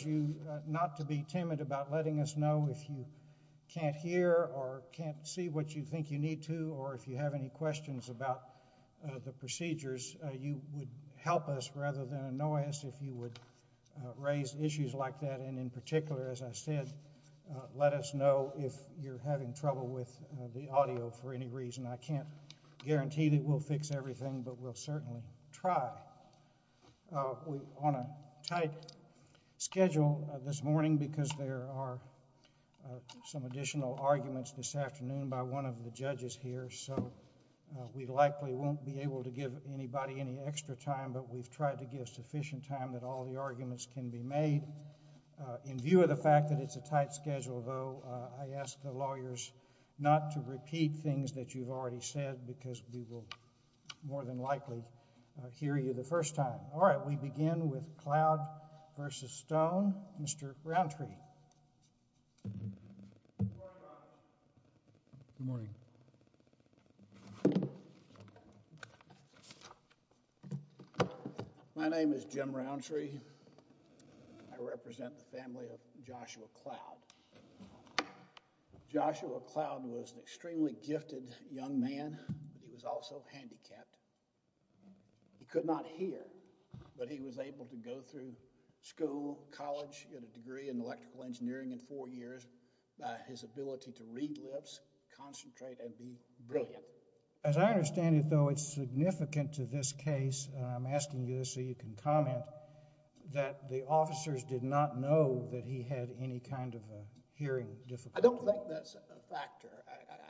you not to be timid about letting us know if you can't hear or can't see what you think you need to or if you have any questions about the procedures, you would help us rather than annoy us if you would raise issues like that and in particular, as I said, let us know if you're having trouble with the audio for any reason. I can't guarantee that we'll fix everything, but we'll certainly try. We're on a tight schedule this morning because there are some additional arguments this afternoon by one of the judges here, so we likely won't be able to give anybody any extra time, but we've tried to give sufficient time that all the arguments can be made. In view of the fact that it's a tight schedule though, I want to repeat things that you've already said because we will more than likely hear you the first time. All right, we begin with Cloud v. Stone. Mr. Roundtree. Good morning. My name is Jim Roundtree. I represent the family of Joshua Cloud. Joshua Cloud was an extremely gifted young man. He was also handicapped. He could not hear, but he was able to go through school, college, get a degree in electrical engineering in four years. His ability to read lips, concentrate, and be brilliant. As I understand it though, it's significant to this case, and I'm asking you this so you can comment, that the officers did not know that he had any kind of a hearing difficulty. I don't think that's a factor.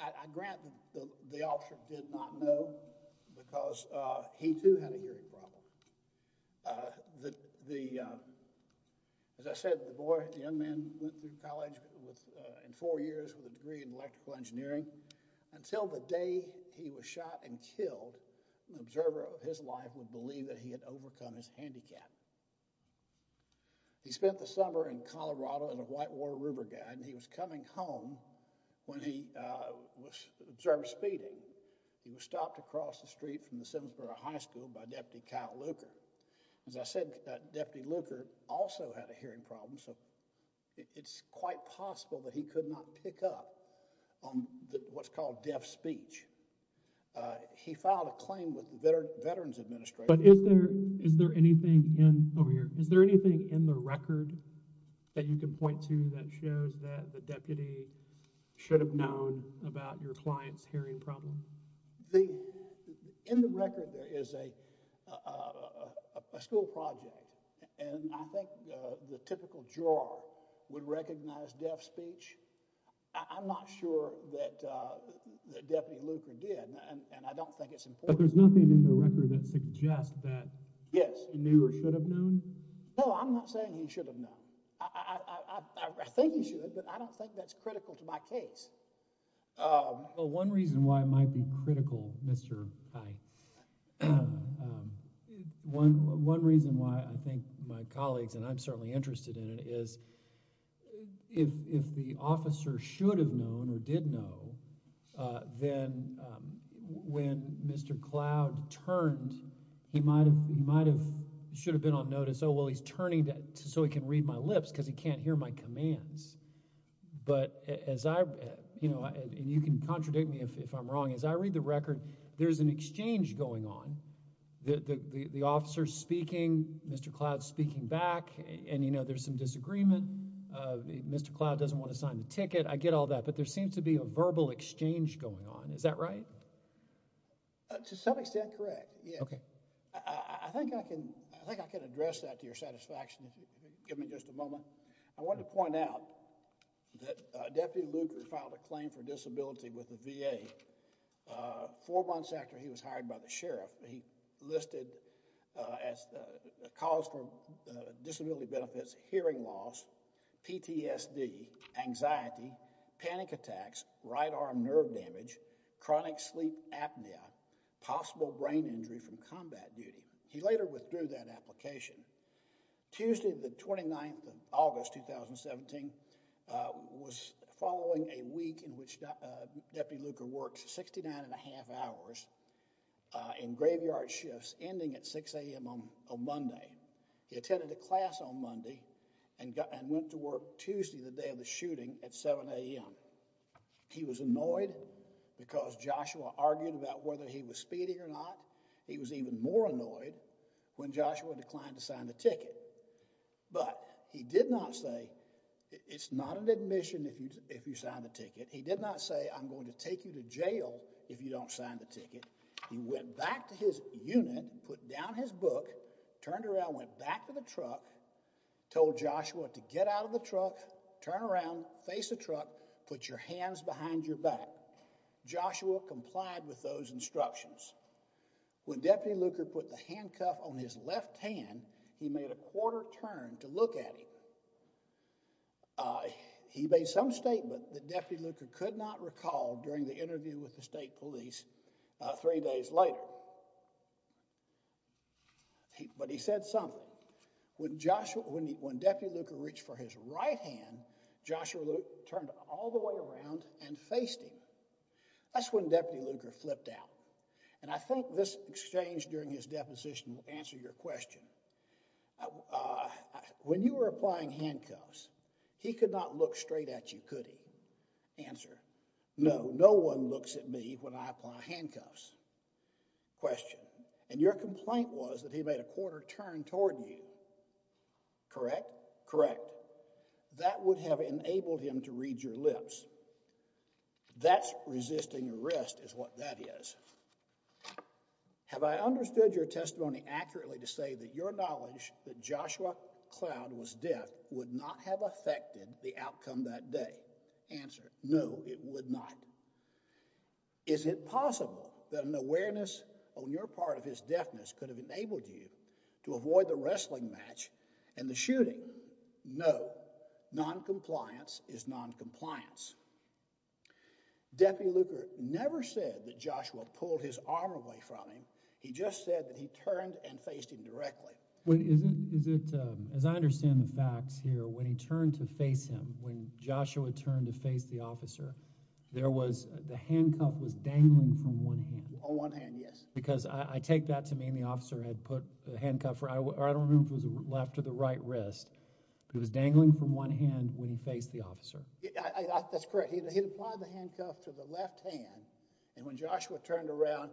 I grant that the officer did not know because he too had a hearing problem. As I said, the young man went through college in four years with a degree in electrical engineering. Until the day he was shot and killed, an observer of his life would believe that he had overcome his handicap. He spent the summer in Colorado in a Whitewater River Guide, and he was coming home when he observed speeding. He was stopped across the street from the Simsboro High School by Deputy Kyle Luker. As I said, Deputy Luker also had a hearing problem, so it's quite possible that he could not pick up on what's called deaf speech. He filed a claim with the Veterans Administration. Is there anything in the record that you can point to that shows that the deputy should have known about your client's hearing problem? In the record, there is a school project, and I think the typical juror would recognize deaf speech. I'm not sure that Deputy Luker did, and I don't think it's important. But there's nothing in the record that suggests that he knew or should have known? No, I'm not saying he should have known. I think he should, but I don't think that's critical to my case. Well, one reason why it might be critical, Mr. Hyte, one reason why I think my colleagues, and I'm certainly interested in it, is if the officer should have known or did know, then when Mr. Cloud turned, he might have should have been on notice, oh, well, he's turning so he can read my lips because he can't hear my commands. But as I, you know, and you can contradict me if I'm wrong, as I read the record, there's an exchange going on. The officer's speaking, Mr. Cloud's speaking back, and, you know, there's some disagreement. Mr. Cloud doesn't want to sign the ticket. I get all that, but there seems to be a verbal exchange going on. Is that right? To some extent, correct. Yeah. Okay. I think I can, I think I can address that to your satisfaction if you give me just a moment. I wanted to point out that Deputy Luker filed a claim for disability with the VA four months after he was hired by the sheriff. He listed as a cause for disability benefits, hearing loss, PTSD, anxiety, panic attacks, right arm nerve damage, chronic sleep apnea, possible brain injury from combat duty. He later withdrew that application. Tuesday, the 29th of August, 2017, was following a shift ending at 6 a.m. on Monday. He attended a class on Monday and went to work Tuesday, the day of the shooting, at 7 a.m. He was annoyed because Joshua argued about whether he was speeding or not. He was even more annoyed when Joshua declined to sign the ticket. But he did not say, it's not an admission if you sign the ticket. He did not say, I'm going to take you to jail if you don't sign the ticket. He went back to his unit, put down his book, turned around, went back to the truck, told Joshua to get out of the truck, turn around, face the truck, put your hands behind your back. Joshua complied with those instructions. When Deputy Luker put the handcuff on his left hand, he made a quarter turn to look at him. He made some statement that Deputy Luker could not recall during the interview with the state police three days later. But he said something. When Deputy Luker reached for his right hand, Joshua turned all the way around and faced him. That's when Deputy Luker flipped out. And I think this exchange during his deposition will answer your question. When you were applying handcuffs, he could not look straight at you, could he? Answer. No, no one looks at me when I apply handcuffs. Question. And your complaint was that he made a quarter turn toward you. Correct? Correct. That would have enabled him to read your lips. That's resisting arrest is what that is. Have I understood your testimony accurately to say your knowledge that Joshua Cloud was deaf would not have affected the outcome that day? Answer. No, it would not. Is it possible that an awareness on your part of his deafness could have enabled you to avoid the wrestling match and the shooting? No. Noncompliance is noncompliance. Deputy Luker never said that Joshua pulled his arm away from him. He just said that he turned and faced him directly. Is it as I understand the facts here, when he turned to face him, when Joshua turned to face the officer, there was the handcuff was dangling from one hand. On one hand, yes. Because I take that to mean the officer had put the handcuff or I don't remember if it was left or the right wrist. It was dangling from one hand when he faced the officer. That's correct. He'd apply the handcuff to the left hand. And when Joshua turned around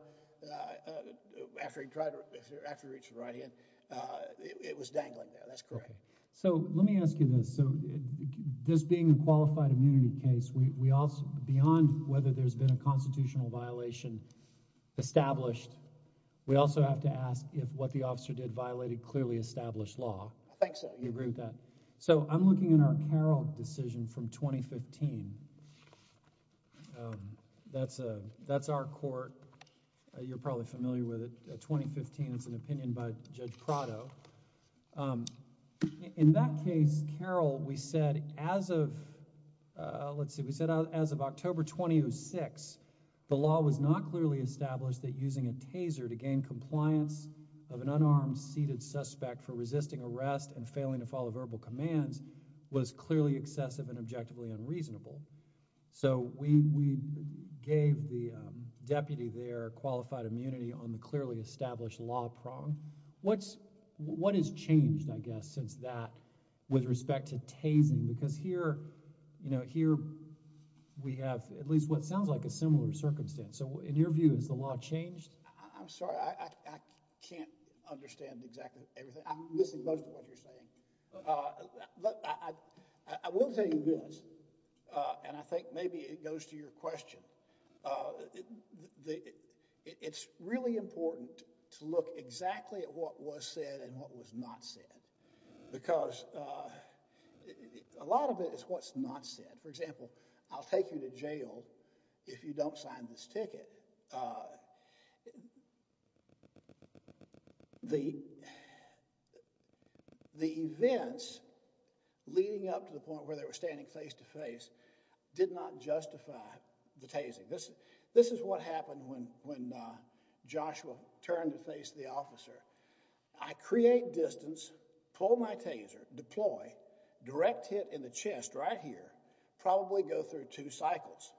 after he tried to, after he reached the right hand, it was dangling there. That's correct. So let me ask you this. So this being a qualified immunity case, we also, beyond whether there's been a constitutional violation established, we also have to ask if what the officer did violated clearly established law. I think so. You agree with that? So I'm looking at our Carroll decision from 2015. That's our court. You're probably familiar with it. 2015, it's an opinion by Judge Prado. In that case, Carroll, we said as of, let's see, we said as of October 2006, the law was not clearly established that using a taser to gain compliance of an unarmed seated suspect for resisting arrest and failing to follow verbal commands was clearly excessive and objectively unreasonable. So we gave the deputy there qualified immunity on the clearly established law prong. What's, what has changed, I guess, since that with respect to tasing? Because here, you know, here we have at least what sounds like a similar I can't understand exactly everything. I'm missing most of what you're saying. But I will tell you this, and I think maybe it goes to your question. It's really important to look exactly at what was said and what was not said, because a lot of it is what's not said. For example, I'll take you to jail if you don't sign this ticket. The, the events leading up to the point where they were standing face to face did not justify the tasing. This, this is what happened when, when Joshua turned to face the officer. I create distance, pull my taser, deploy, direct hit in the chest right here, probably go through two cycles.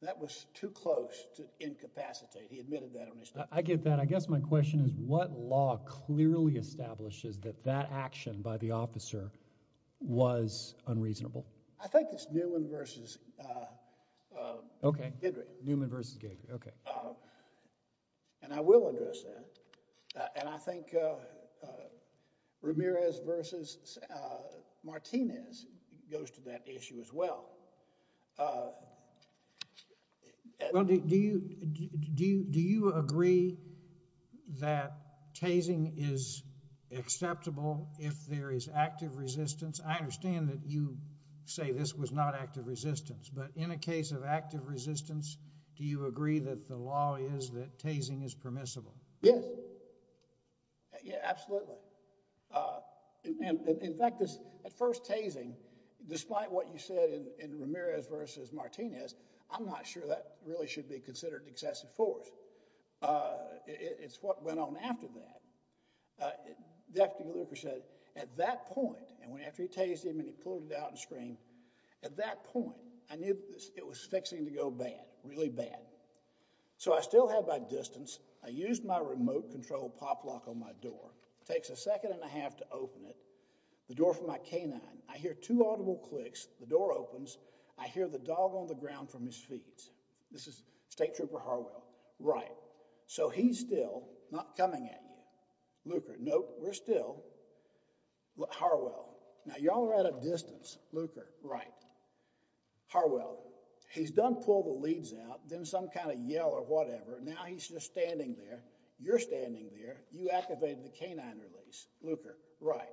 That was too close to incapacitate. He admitted that. I get that. I guess my question is what law clearly establishes that that action by the officer was unreasonable? I think it's Newman versus. Okay. Newman versus Gay. Okay. And I will address that. And I think Ramirez versus Martinez goes to that issue as well. Well, do you, do you, do you agree that tasing is acceptable if there is active resistance? I understand that you say this was not active resistance, but in a case of active resistance, do you agree that the law is that tasing is permissible? Yes. Yeah, absolutely. Uh, and in fact, this at first tasing, despite what you said in Ramirez versus Martinez, I'm not sure that really should be considered excessive force. Uh, it's what went on after that. Uh, Deputy Looper said at that point, and when, after he tased him and he pulled it out and screamed at that point, I knew it was fixing to go bad, really bad. So I still had my distance. I used my remote control pop lock on my door. Takes a second and a half to open it. The door for my canine. I hear two audible clicks. The door opens. I hear the dog on the ground from his feet. This is state trooper Harwell. Right. So he's still not coming at you. Looper. Nope. We're still. Harwell. Now y'all are at a distance. Looper. Right. Harwell. He's done pulled the leads out, then some kind of yell or whatever. Now he's just standing there. You're standing there. You activated the canine release. Looper. Right.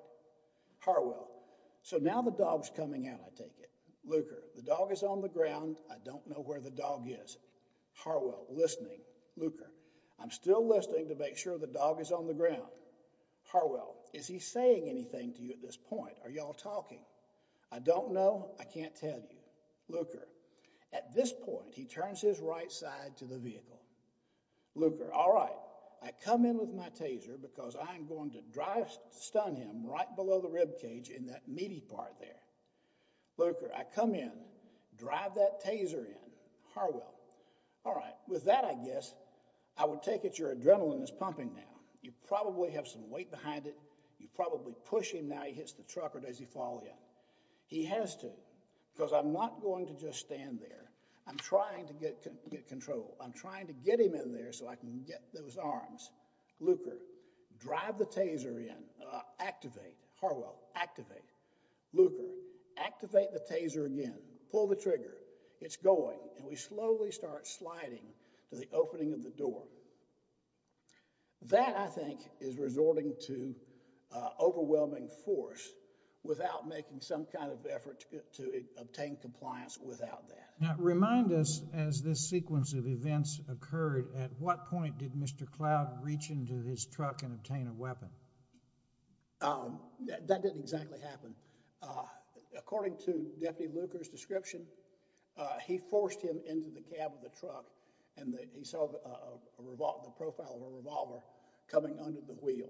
Harwell. So now the dog's coming out, I take it. Looper. The dog is on the ground. I don't know where the dog is. Harwell. Listening. Looper. I'm still listening to make sure the dog is on the ground. Harwell. Is he saying anything to you at this point? Are y'all talking? I don't know. I can't tell you. Looper. At this point, he turns his right side to the vehicle. Looper. All right. I come in with my taser because I'm going to drive stun him right below the rib cage in that meaty part there. Looper. I come in, drive that taser in. Harwell. All right. With that, I guess I would take it your adrenaline is pumping now. You probably have some weight behind it. You probably push him now. He hits the truck or does he fall yet? He has to because I'm not going to just stand there. I'm trying to get control. I'm trying to get him in there so I can get those arms. Looper. Drive the taser in. Activate. Harwell. Activate. Looper. Activate the taser again. Pull the trigger. It's going and we slowly start sliding to the opening of the door. That, I think, is resorting to overwhelming force without making some kind of effort to obtain compliance without that. Now, remind us as this sequence of events occurred, at what point did Mr. Cloud reach into his truck and obtain a weapon? That didn't exactly happen. According to Deputy Looper's description, he forced him into the cab of the truck and then he saw the profile of a revolver coming under the wheel.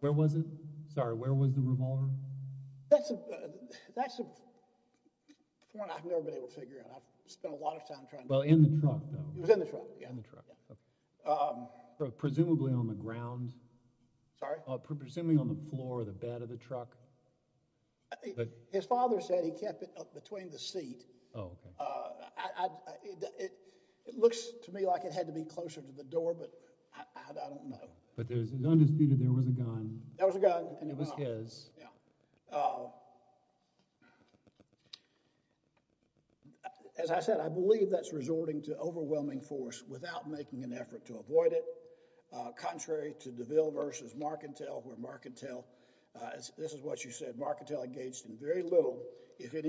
Where was it? Sorry, where was the revolver? That's a point I've never been able to figure out. I've spent a lot of time trying. Well, in the truck. It was in the truck. Presumably on the ground. Sorry? Presumably on the floor or the bed of the truck. I think his father said he kept it between the seat. Oh, okay. It looks to me like it had to be closer to the door, but I don't know. But it's undisputed there was a gun. There was a gun and it was his. Yeah. As I said, I believe that's resorting to overwhelming force without making an effort to engage the defendant in any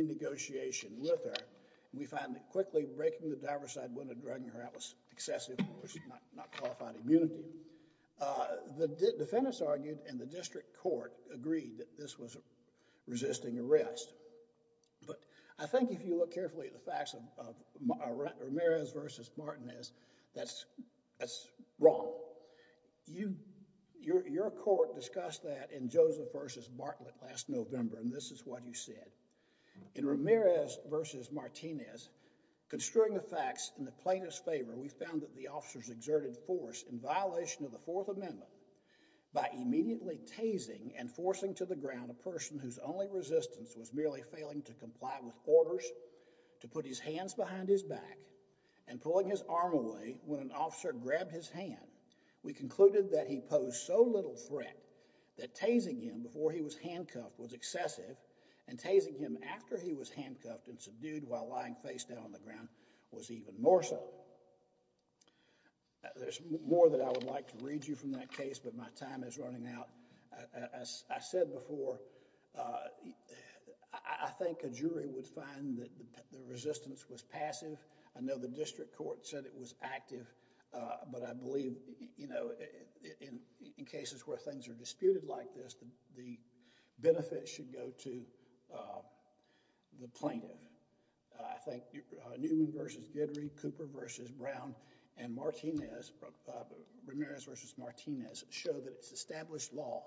negotiation with her. We find that quickly breaking the diver's side when a drug in her hand was excessive was not qualified immunity. The defendants argued and the district court agreed that this was resisting arrest. But I think if you look carefully at the facts of Ramirez versus Martinez, that's wrong. Your court discussed that in Joseph versus Bartlett last November, and this is what you said in Ramirez versus Martinez. Construing the facts in the plaintiff's favor, we found that the officers exerted force in violation of the Fourth Amendment by immediately tasing and forcing to the ground a person whose only resistance was merely failing to comply with orders to put his hands behind his back and pulling his arm away. When an officer grabbed his hand, we concluded that he posed so little threat that tasing him before he was handcuffed was excessive and tasing him after he was handcuffed and subdued while lying face down on the ground was even more so. There's more that I would like to read you from that case, but my time is running out. As I said before, I think a jury would find that the resistance was passive. I know the district court said it was active, but I believe, you know, in cases where things are disputed like this, the benefits should go to the plaintiff. I think Newman versus Guidry, Cooper versus Brown, and Martinez, Ramirez versus Martinez, show that it's established law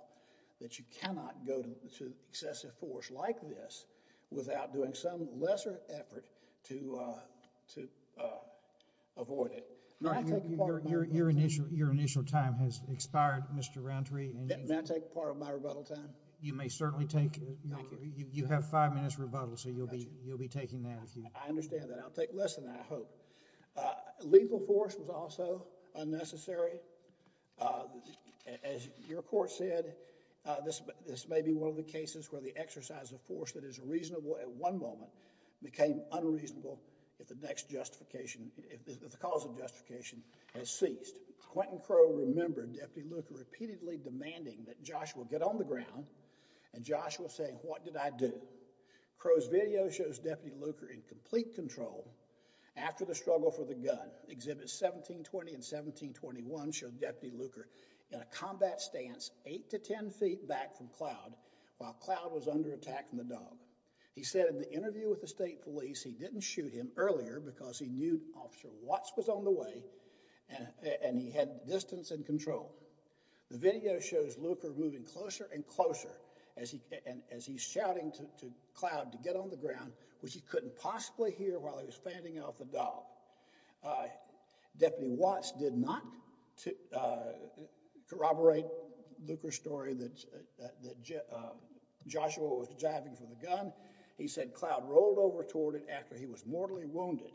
that you cannot go to excessive force like this without doing some lesser effort to avoid it. Your initial time has expired, Mr. Rountree. May I take part of my rebuttal time? You may certainly take it. You have five minutes rebuttal, so you'll be taking that. I understand that. I'll take less than that, I hope. Legal force was also unnecessary. As your court said, this may be one of the cases where the exercise of force that is reasonable at one moment became unreasonable if the next justification, if the cause of justification has ceased. Quentin Crowe remembered Deputy Luker repeatedly demanding that Joshua get on the ground and Joshua say, what did I do? Crowe's video shows Deputy Luker in complete control after the struggle for the gun. Exhibits 1720 and 1721 show Deputy Luker in a combat stance eight to ten feet back from Cloud while Cloud was under attack from the dog. He said in the interview with the state police he didn't shoot him earlier because he knew Officer Watts was on the way and he had distance and control. The video shows Luker moving closer and closer as he's shouting to Cloud to get on the ground, which he couldn't possibly hear while he was fanning off the dog. Deputy Watts did not corroborate Luker's story that Joshua was jiving for the gun. He said Cloud rolled over toward it after he was mortally wounded.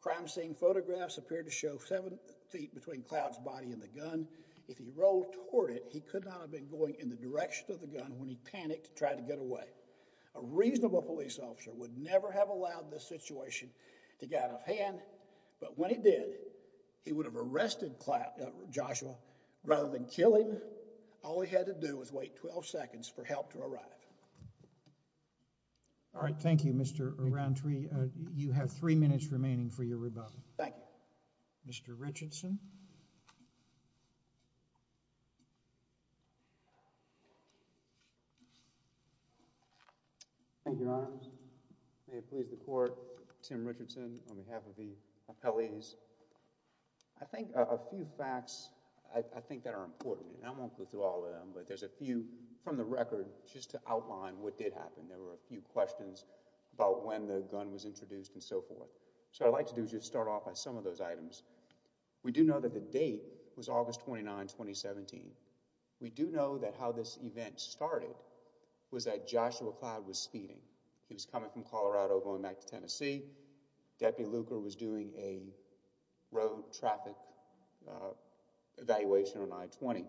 Crime scene photographs appear to show seven feet between Cloud's body and the gun. If he rolled toward it, he could not have been going in the direction of the gun when he panicked to try to get away. A reasonable police officer would never have allowed this situation to get out of hand, but when he did, he would have arrested Joshua rather than kill him. All he had to do was wait 12 seconds for help to arrive. All right, thank you Mr. Arantri. You have three minutes remaining for your rebuttal. Thank you. Mr. Richardson. Thank you, Your Honor. May it please the court, Tim Richardson on behalf of the appellees. I think a few facts, I think that are important and I won't go through all of them, but there's a few from the record just to outline what did happen. There were a few questions about when the gun was shot. We do know that the date was August 29, 2017. We do know that how this event started was that Joshua Cloud was speeding. He was coming from Colorado, going back to Tennessee. Deputy Luker was doing a road traffic evaluation on I-20.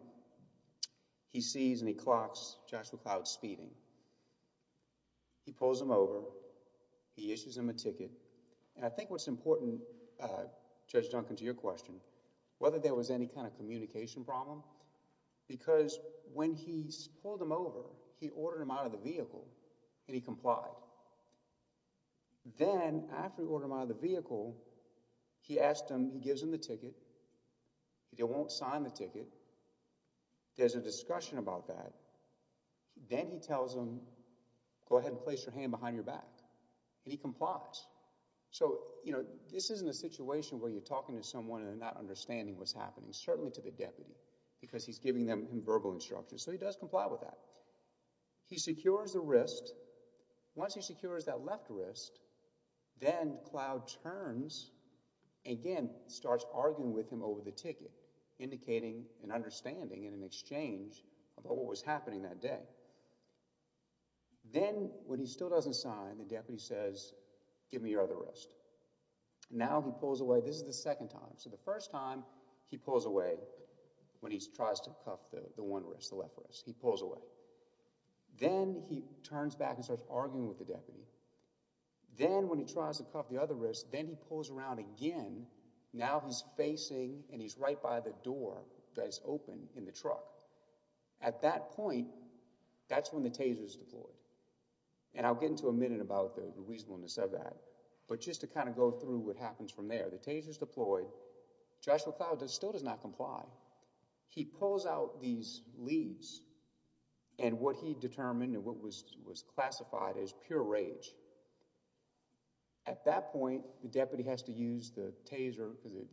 He sees and he clocks Joshua Cloud speeding. He pulls him over, he issues him a ticket, and I think what's important, Judge Duncan, to your question, whether there was any kind of communication problem, because when he pulled him over, he ordered him out of the vehicle and he complied. Then, after he ordered him out of the vehicle, he asked him, he gives him the ticket. If you won't sign the ticket, there's a discussion about that. Then he tells him, go ahead and place your hand behind your back, and he complies. So, you know, this isn't a situation where you're talking to someone and they're not understanding what's happening, certainly to the deputy, because he's giving them verbal instructions. So, he does comply with that. He secures the wrist. Once he secures that left wrist, then Cloud turns again, starts arguing with him over the ticket, indicating an understanding and an exchange about what was happening that day. Then, when he still doesn't sign, the deputy says, give me your other wrist. Now, he pulls away. This is the second time. So, the first time he pulls away when he tries to cuff the one wrist, the left wrist, he pulls away. Then he turns back and starts arguing with the deputy. Then, when he tries to cuff the other wrist again, now he's facing and he's right by the door that is open in the truck. At that point, that's when the taser is deployed. And I'll get into a minute about the reasonableness of that, but just to kind of go through what happens from there. The taser is deployed. Joshua Cloud still does not comply. He pulls out these leaves and what he determined and what was the taser,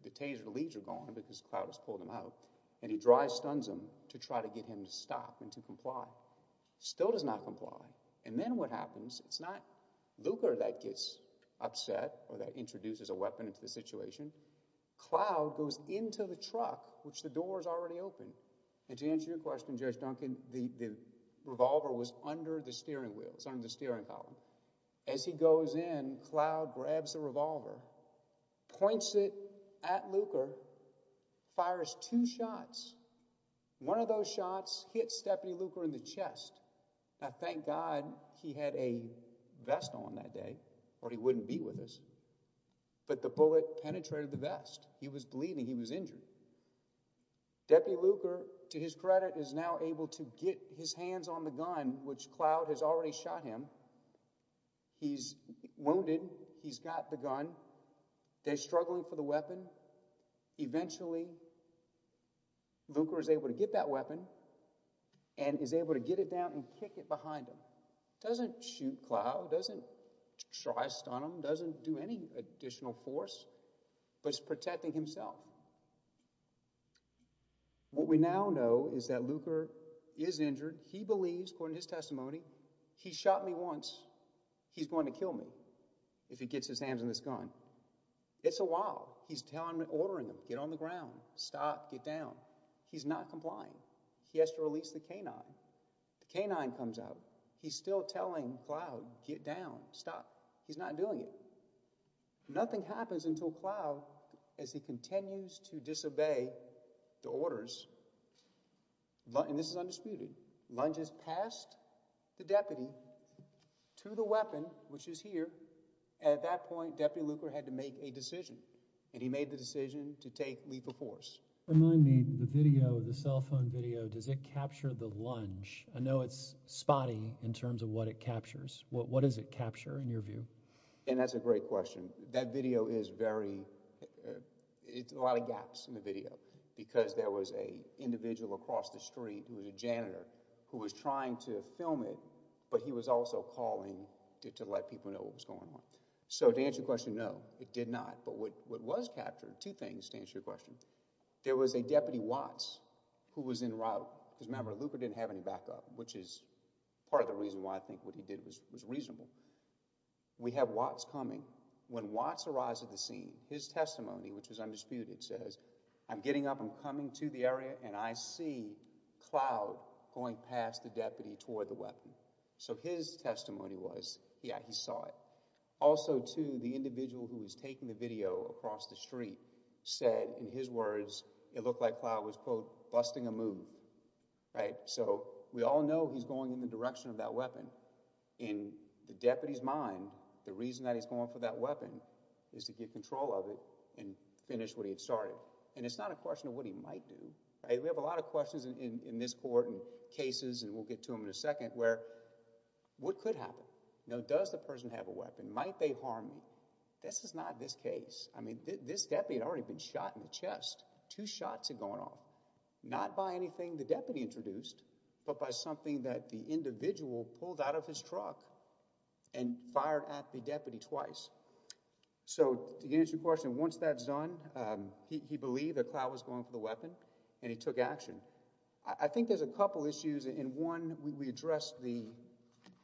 the taser leaves are gone because Cloud has pulled them out. And he dry stuns him to try to get him to stop and to comply. Still does not comply. And then what happens, it's not Luca that gets upset or that introduces a weapon into the situation. Cloud goes into the truck, which the door is already open. And to answer your question, Judge Duncan, the revolver was under the steering wheel. It's under the steering column. As he goes in, Cloud grabs the revolver, points it at Luca, fires two shots. One of those shots hits Deputy Luca in the chest. Now, thank God he had a vest on that day or he wouldn't be with us. But the bullet penetrated the vest. He was bleeding. He was injured. Deputy Luca, to his credit, is now able to get his hands on the gun, which Cloud has already shot him. He's wounded. He's got the gun. They're struggling for the weapon. Eventually, Luca is able to get that weapon and is able to get it down and kick it behind him. Doesn't shoot Cloud, doesn't dry stun him, doesn't do any additional force, but is protecting himself. What we now know is that Luca is injured. He believes, according to his testimony, he shot me once. He's going to kill me if he gets his hands on this gun. It's a while. He's telling him, ordering him, get on the ground, stop, get down. He's not complying. He has to release the canine. The canine comes out. He's still telling Cloud, get down, stop. He's not doing it. Nothing happens until Cloud, as he continues to disobey the orders, and this is undisputed, lunges past the deputy to the weapon, which is here. At that point, Deputy Luca had to make a decision, and he made the decision to take lethal force. Remind me, the video, the cell phone video, does it capture the lunge? I know it's spotty in terms what it captures. What does it capture, in your view? That's a great question. That video is very, it's a lot of gaps in the video because there was an individual across the street who was a janitor who was trying to film it, but he was also calling to let people know what was going on. So, to answer your question, no, it did not, but what was captured, two things, to answer your question. There was a Deputy Watts who was en route. Remember, Luca didn't have any backup, which is part of the reason why I think what he did was reasonable. We have Watts coming. When Watts arrives at the scene, his testimony, which was undisputed, says, I'm getting up, I'm coming to the area, and I see Cloud going past the deputy toward the weapon. So, his testimony was, yeah, he saw it. Also, too, the individual who was taking the video across the street said, in his words, it looked like Cloud was, quote, busting a move, right? So, we all know he's going in the direction of that weapon. In the deputy's mind, the reason that he's going for that weapon is to get control of it and finish what he had started, and it's not a question of what he might do, right? We have a lot of questions in this court and cases, and we'll get to them in a second, where what could happen? You know, does the person have a weapon? Might they harm you? This is not this case. I mean, this deputy had already been shot in the chest. Two shots had gone off, not by anything the deputy introduced, but by something that the individual pulled out of his truck and fired at the deputy twice. So, to answer your question, once that's done, he believed that Cloud was going for the weapon, and he took action. I think there's a couple issues, and one, we addressed the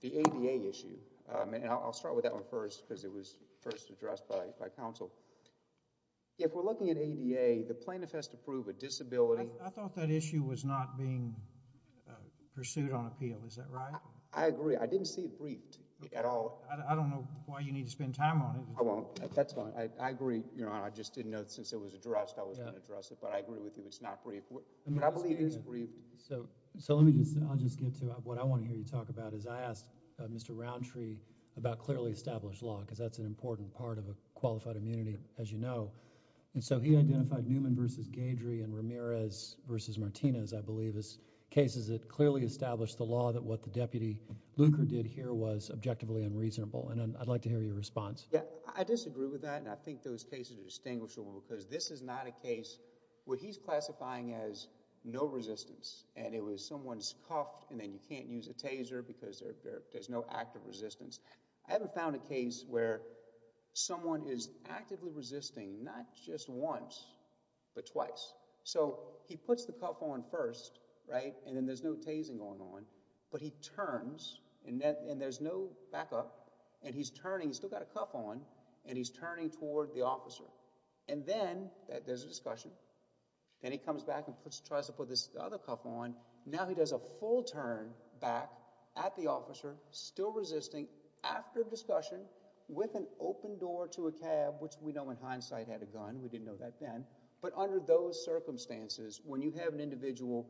the ABA issue, and I'll start with that one first because it was first addressed by counsel. If we're looking at ADA, the plaintiff has to prove a disability. I thought that issue was not being pursued on appeal. Is that right? I agree. I didn't see it briefed at all. I don't know why you need to spend time on it. I won't. That's fine. I agree, Your Honor. I just didn't know, since it was addressed, I wasn't going to address it, but I agree with you. It's not briefed. But I believe it is briefed. So, let me just, I'll just get to, what I want to hear you talk about is, I asked Mr. Roundtree about clearly established law because that's an important part of a qualified immunity, as you know, and so he identified Newman v. Gadrey and Ramirez v. Martinez, I believe, as cases that clearly established the law that what the deputy Lugar did here was objectively unreasonable, and I'd like to hear your response. Yeah, I disagree with that, and I think those cases are distinguishable because this is not a case where he's classifying as no resistance, and it was someone's cuffed, and then you can't use a taser because there's no active resistance. I haven't found a case where someone is actively resisting, not just once, but twice. So, he puts the cuff on first, right, and then there's no tasing going on, but he turns, and there's no backup, and he's turning, he's still got a cuff on, and he's turning toward the officer, and then there's a discussion, then he comes back and tries to put this other cuff on. Now he does a full turn back at the officer, still resisting, after discussion, with an open door to a cab, which we know in hindsight had a gun. We didn't know that then, but under those circumstances, when you have an individual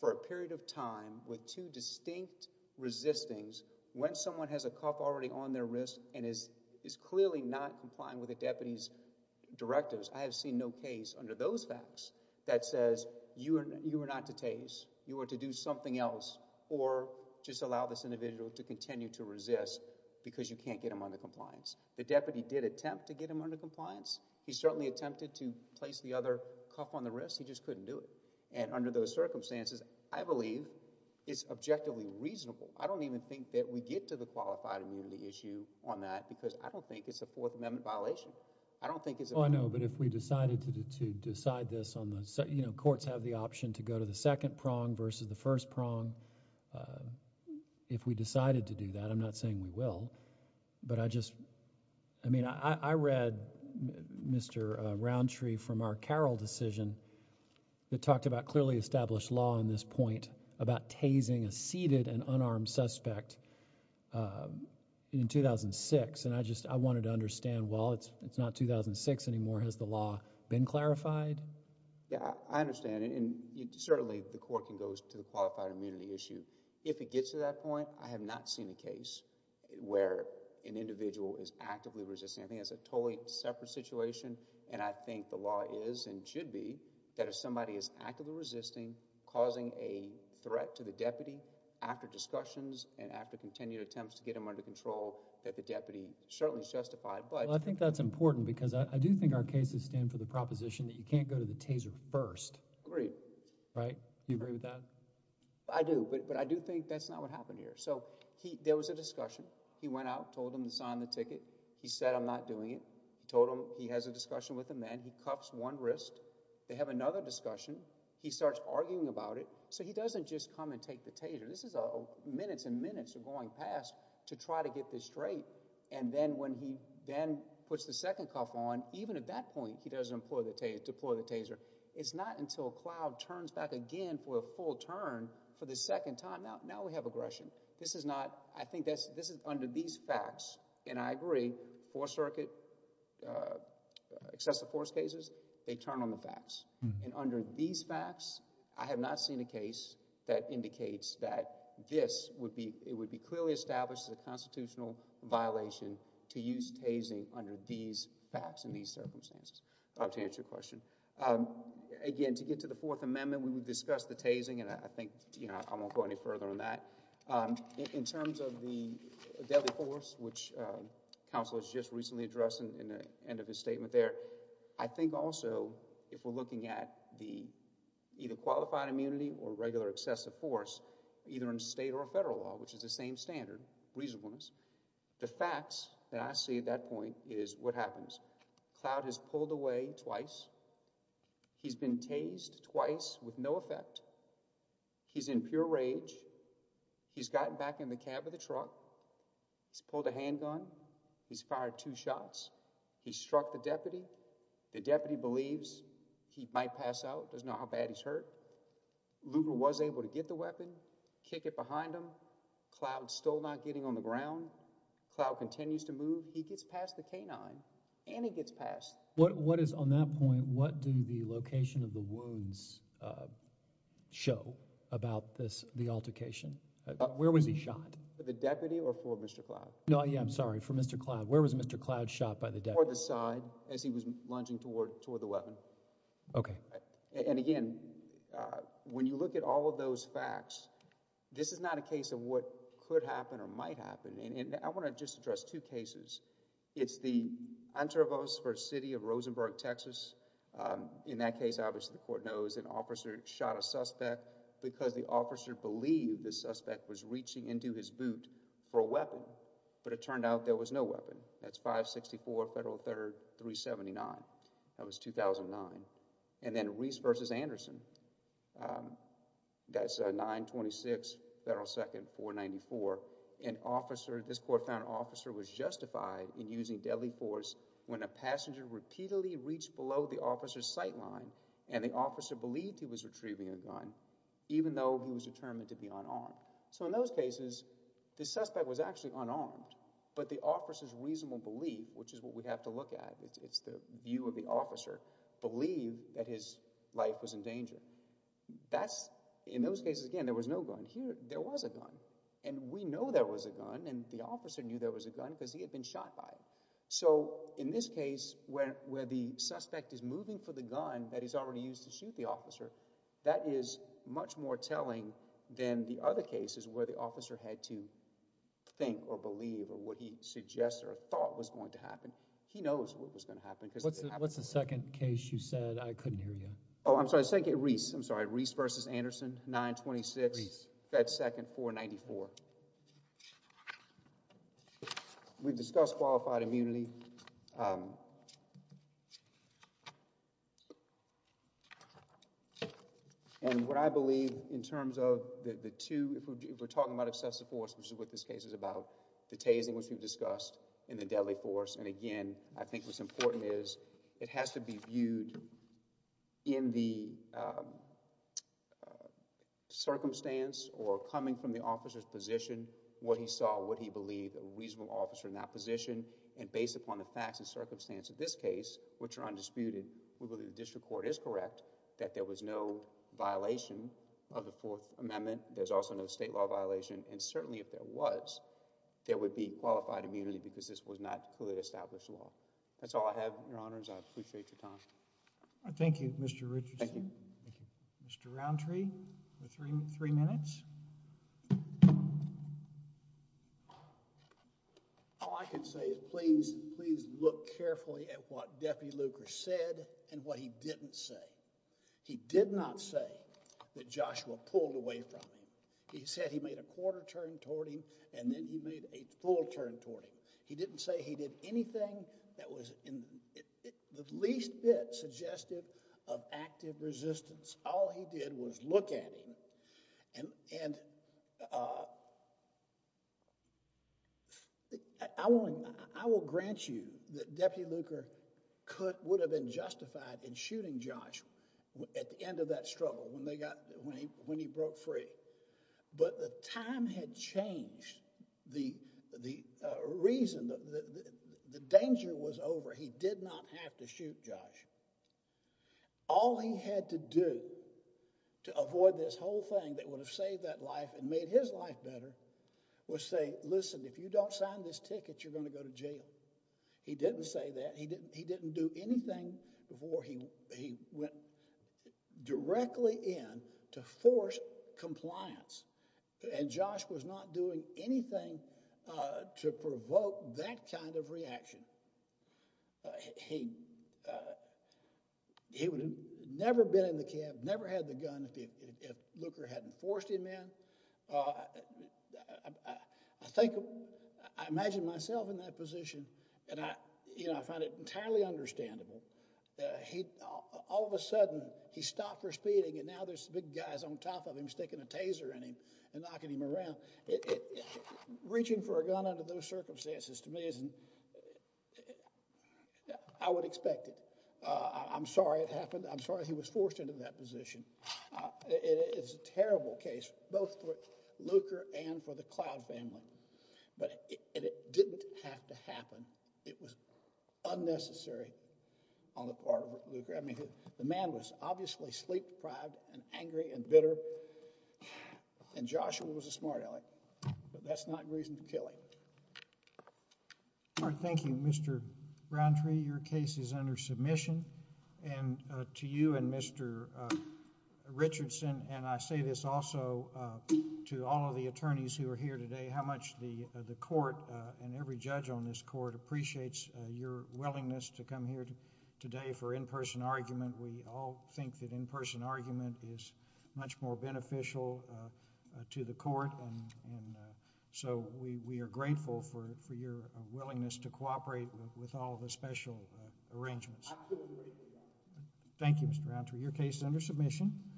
for a period of time with two distinct resistings, when someone has a cuff already on their wrist and is clearly not complying with the deputy's directives, I have seen no case under those facts that says you are not to tase, you are to do something else, or just allow this individual to continue to resist because you can't get him under compliance. The deputy did attempt to get him under compliance. He certainly attempted to place the other cuff on the wrist. He just couldn't do it, and under those circumstances, I believe it's objectively reasonable. I don't even think that we get to the qualified immunity issue on that because I don't think it's a Fourth Amendment violation. I don't think it's... Oh, I know, but if we decided to decide this on the, you know, courts have the option to go to the second prong versus the first prong. If we decided to do that, I'm not saying we will, but I just, I mean, I read Mr. Roundtree from our Carroll decision that talked about clearly established law on this point about tasing a seated and unarmed suspect in 2006, and I just, I wanted to understand, well, it's not 2006 anymore. Has the law been clarified? Yeah, I understand, and certainly the court can go to qualified immunity issue. If it gets to that point, I have not seen a case where an individual is actively resisting. I think that's a totally separate situation, and I think the law is and should be that if somebody is actively resisting, causing a threat to the deputy after discussions and after continued attempts to get him under control, that the deputy certainly is justified, but... Well, I think that's important because I do think our cases stand for the proposition that you can't go to the taser first. Agree. Right? You agree with that? I do, but I do think that's not what happened here. So he, there was a discussion. He went out, told him to sign the ticket. He said, I'm not doing it. He told him he has a discussion with a man. He cuffs one wrist. They have another discussion. He starts arguing about it, so he doesn't just come and take the taser. This is a minutes and minutes are going past to try to get this straight, and then when he then puts the second cuff on, even at that point, he doesn't deploy the taser. It's not until Clough turns back again for a full turn for the second time. Now we have aggression. This is not, I think this is under these facts, and I agree, Fourth Circuit excessive force cases, they turn on the facts, and under these facts, I have not seen a case that indicates that this would be, clearly establishes a constitutional violation to use tasing under these facts and these circumstances. I hope to answer your question. Again, to get to the Fourth Amendment, we would discuss the tasing, and I think, you know, I won't go any further on that. In terms of the deadly force, which counsel has just recently addressed in the end of his statement there, I think also, if we're looking at the either qualified immunity or regular excessive force, either in state or federal law, which is the same standard, reasonableness, the facts that I see at that point is what happens. Clough has pulled away twice. He's been tased twice with no effect. He's in pure rage. He's gotten back in the cab of the truck. He's pulled a handgun. He's fired two shots. He struck the deputy. The deputy believes he might pass out, doesn't know how kick it behind him. Cloud still not getting on the ground. Cloud continues to move. He gets past the canine and he gets past. What is on that point? What do the location of the wounds show about this? The altercation? Where was he shot? The deputy or for Mr. Cloud? No. Yeah, I'm sorry. For Mr. Cloud. Where was Mr. Cloud shot by the side as he was lunging toward toward the facts? This is not a case of what could happen or might happen. And I want to just address two cases. It's the intervals for city of Rosenberg, Texas. In that case, obviously, the court knows an officer shot a suspect because the officer believed the suspect was reaching into his boot for a weapon. But it turned out there was no weapon. That's five. Sixty four federal third three. Seventy nine. That was two thousand nine. And then Reese versus Anderson. That's nine. Twenty six. Federal second four. Ninety four. An officer. This court found officer was justified in using deadly force when a passenger repeatedly reached below the officer's sight line and the officer believed he was retrieving a gun even though he was determined to be on on. So in those cases, the suspect was actually unarmed. But the officer's reasonable belief, which is what we have to look at, it's the view of the officer believe that his life was in danger. That's in those cases. Again, there was no gun here. There was a gun and we know there was a gun and the officer knew there was a gun because he had been shot by it. So in this case, where where the suspect is moving for the gun that he's already used to shoot the officer, that is much more telling than the other cases where the officer had to think or believe or what he suggests or thought was going to happen. He knows what was going to happen. What's the second case you said? I couldn't hear you. Oh, I'm sorry. Thank you, Reese. I'm sorry. Reese versus Anderson. Nine. Twenty six. That second four. Ninety four. We've discussed qualified immunity. And what I believe in terms of the two, if we're talking about excessive force, which is what this case is about, the tasing, which we've discussed in the deadly force. And again, I think what's important is it has to be viewed in the circumstance or coming from the officer's position, what he saw, what he believed a reasonable officer in that position. And based upon the facts and circumstance of this case, which are undisputed, we believe the district court is correct that there was no violation of the Fourth Amendment. There's also no state violation. And certainly if there was, there would be qualified immunity because this was not clearly established law. That's all I have, Your Honors. I appreciate your time. Thank you, Mr. Richardson. Mr. Roundtree, three minutes. All I can say is please, please look carefully at what Deputy Luker said and what he didn't say. He did not say that Joshua pulled away from him. He said he made a quarter turn toward him and then he made a full turn toward him. He didn't say he did anything that was in the least bit suggestive of active resistance. All he did was look at him. And I will grant you that Deputy Luker would have been justified in shooting Josh at the end of that struggle when he broke free. But the time had changed. The reason, the danger was over. He did not have to shoot Josh. All he had to do to avoid this whole thing that would have saved that life and made his life better was say, listen, if you don't sign this ticket, you're going to go to jail. He didn't say that. He didn't do anything before he went directly in to force compliance. And Josh was not doing anything to provoke that kind of reaction. He would have never been in the camp, never had a gun if Luker hadn't forced him in. I imagine myself in that position and I find it entirely understandable. All of a sudden he stopped for speeding and now there's big guys on top of him sticking a taser in him and knocking him around. Reaching for a gun under those circumstances to me is, I would expect it. I'm sorry it happened. I'm sorry he was forced into that position. It is a terrible case, both for Luker and for the Cloud family. But it didn't have to happen. It was unnecessary on the part of Luker. I mean, the man was obviously sleep deprived and angry and bitter and Joshua was a smart aleck. But that's not reason to kill him. Thank you, Mr. Browntree. Your case is under submission. And to you and Mr. Richardson, and I say this also to all of the attorneys who are here today, how much the court and every judge on this court appreciates your willingness to come here today for in-person argument. We all think that in-person argument is much more beneficial to the court and so we are grateful for your willingness to cooperate with all the special arrangements. Thank you, Mr. Browntree. Your case is under submission.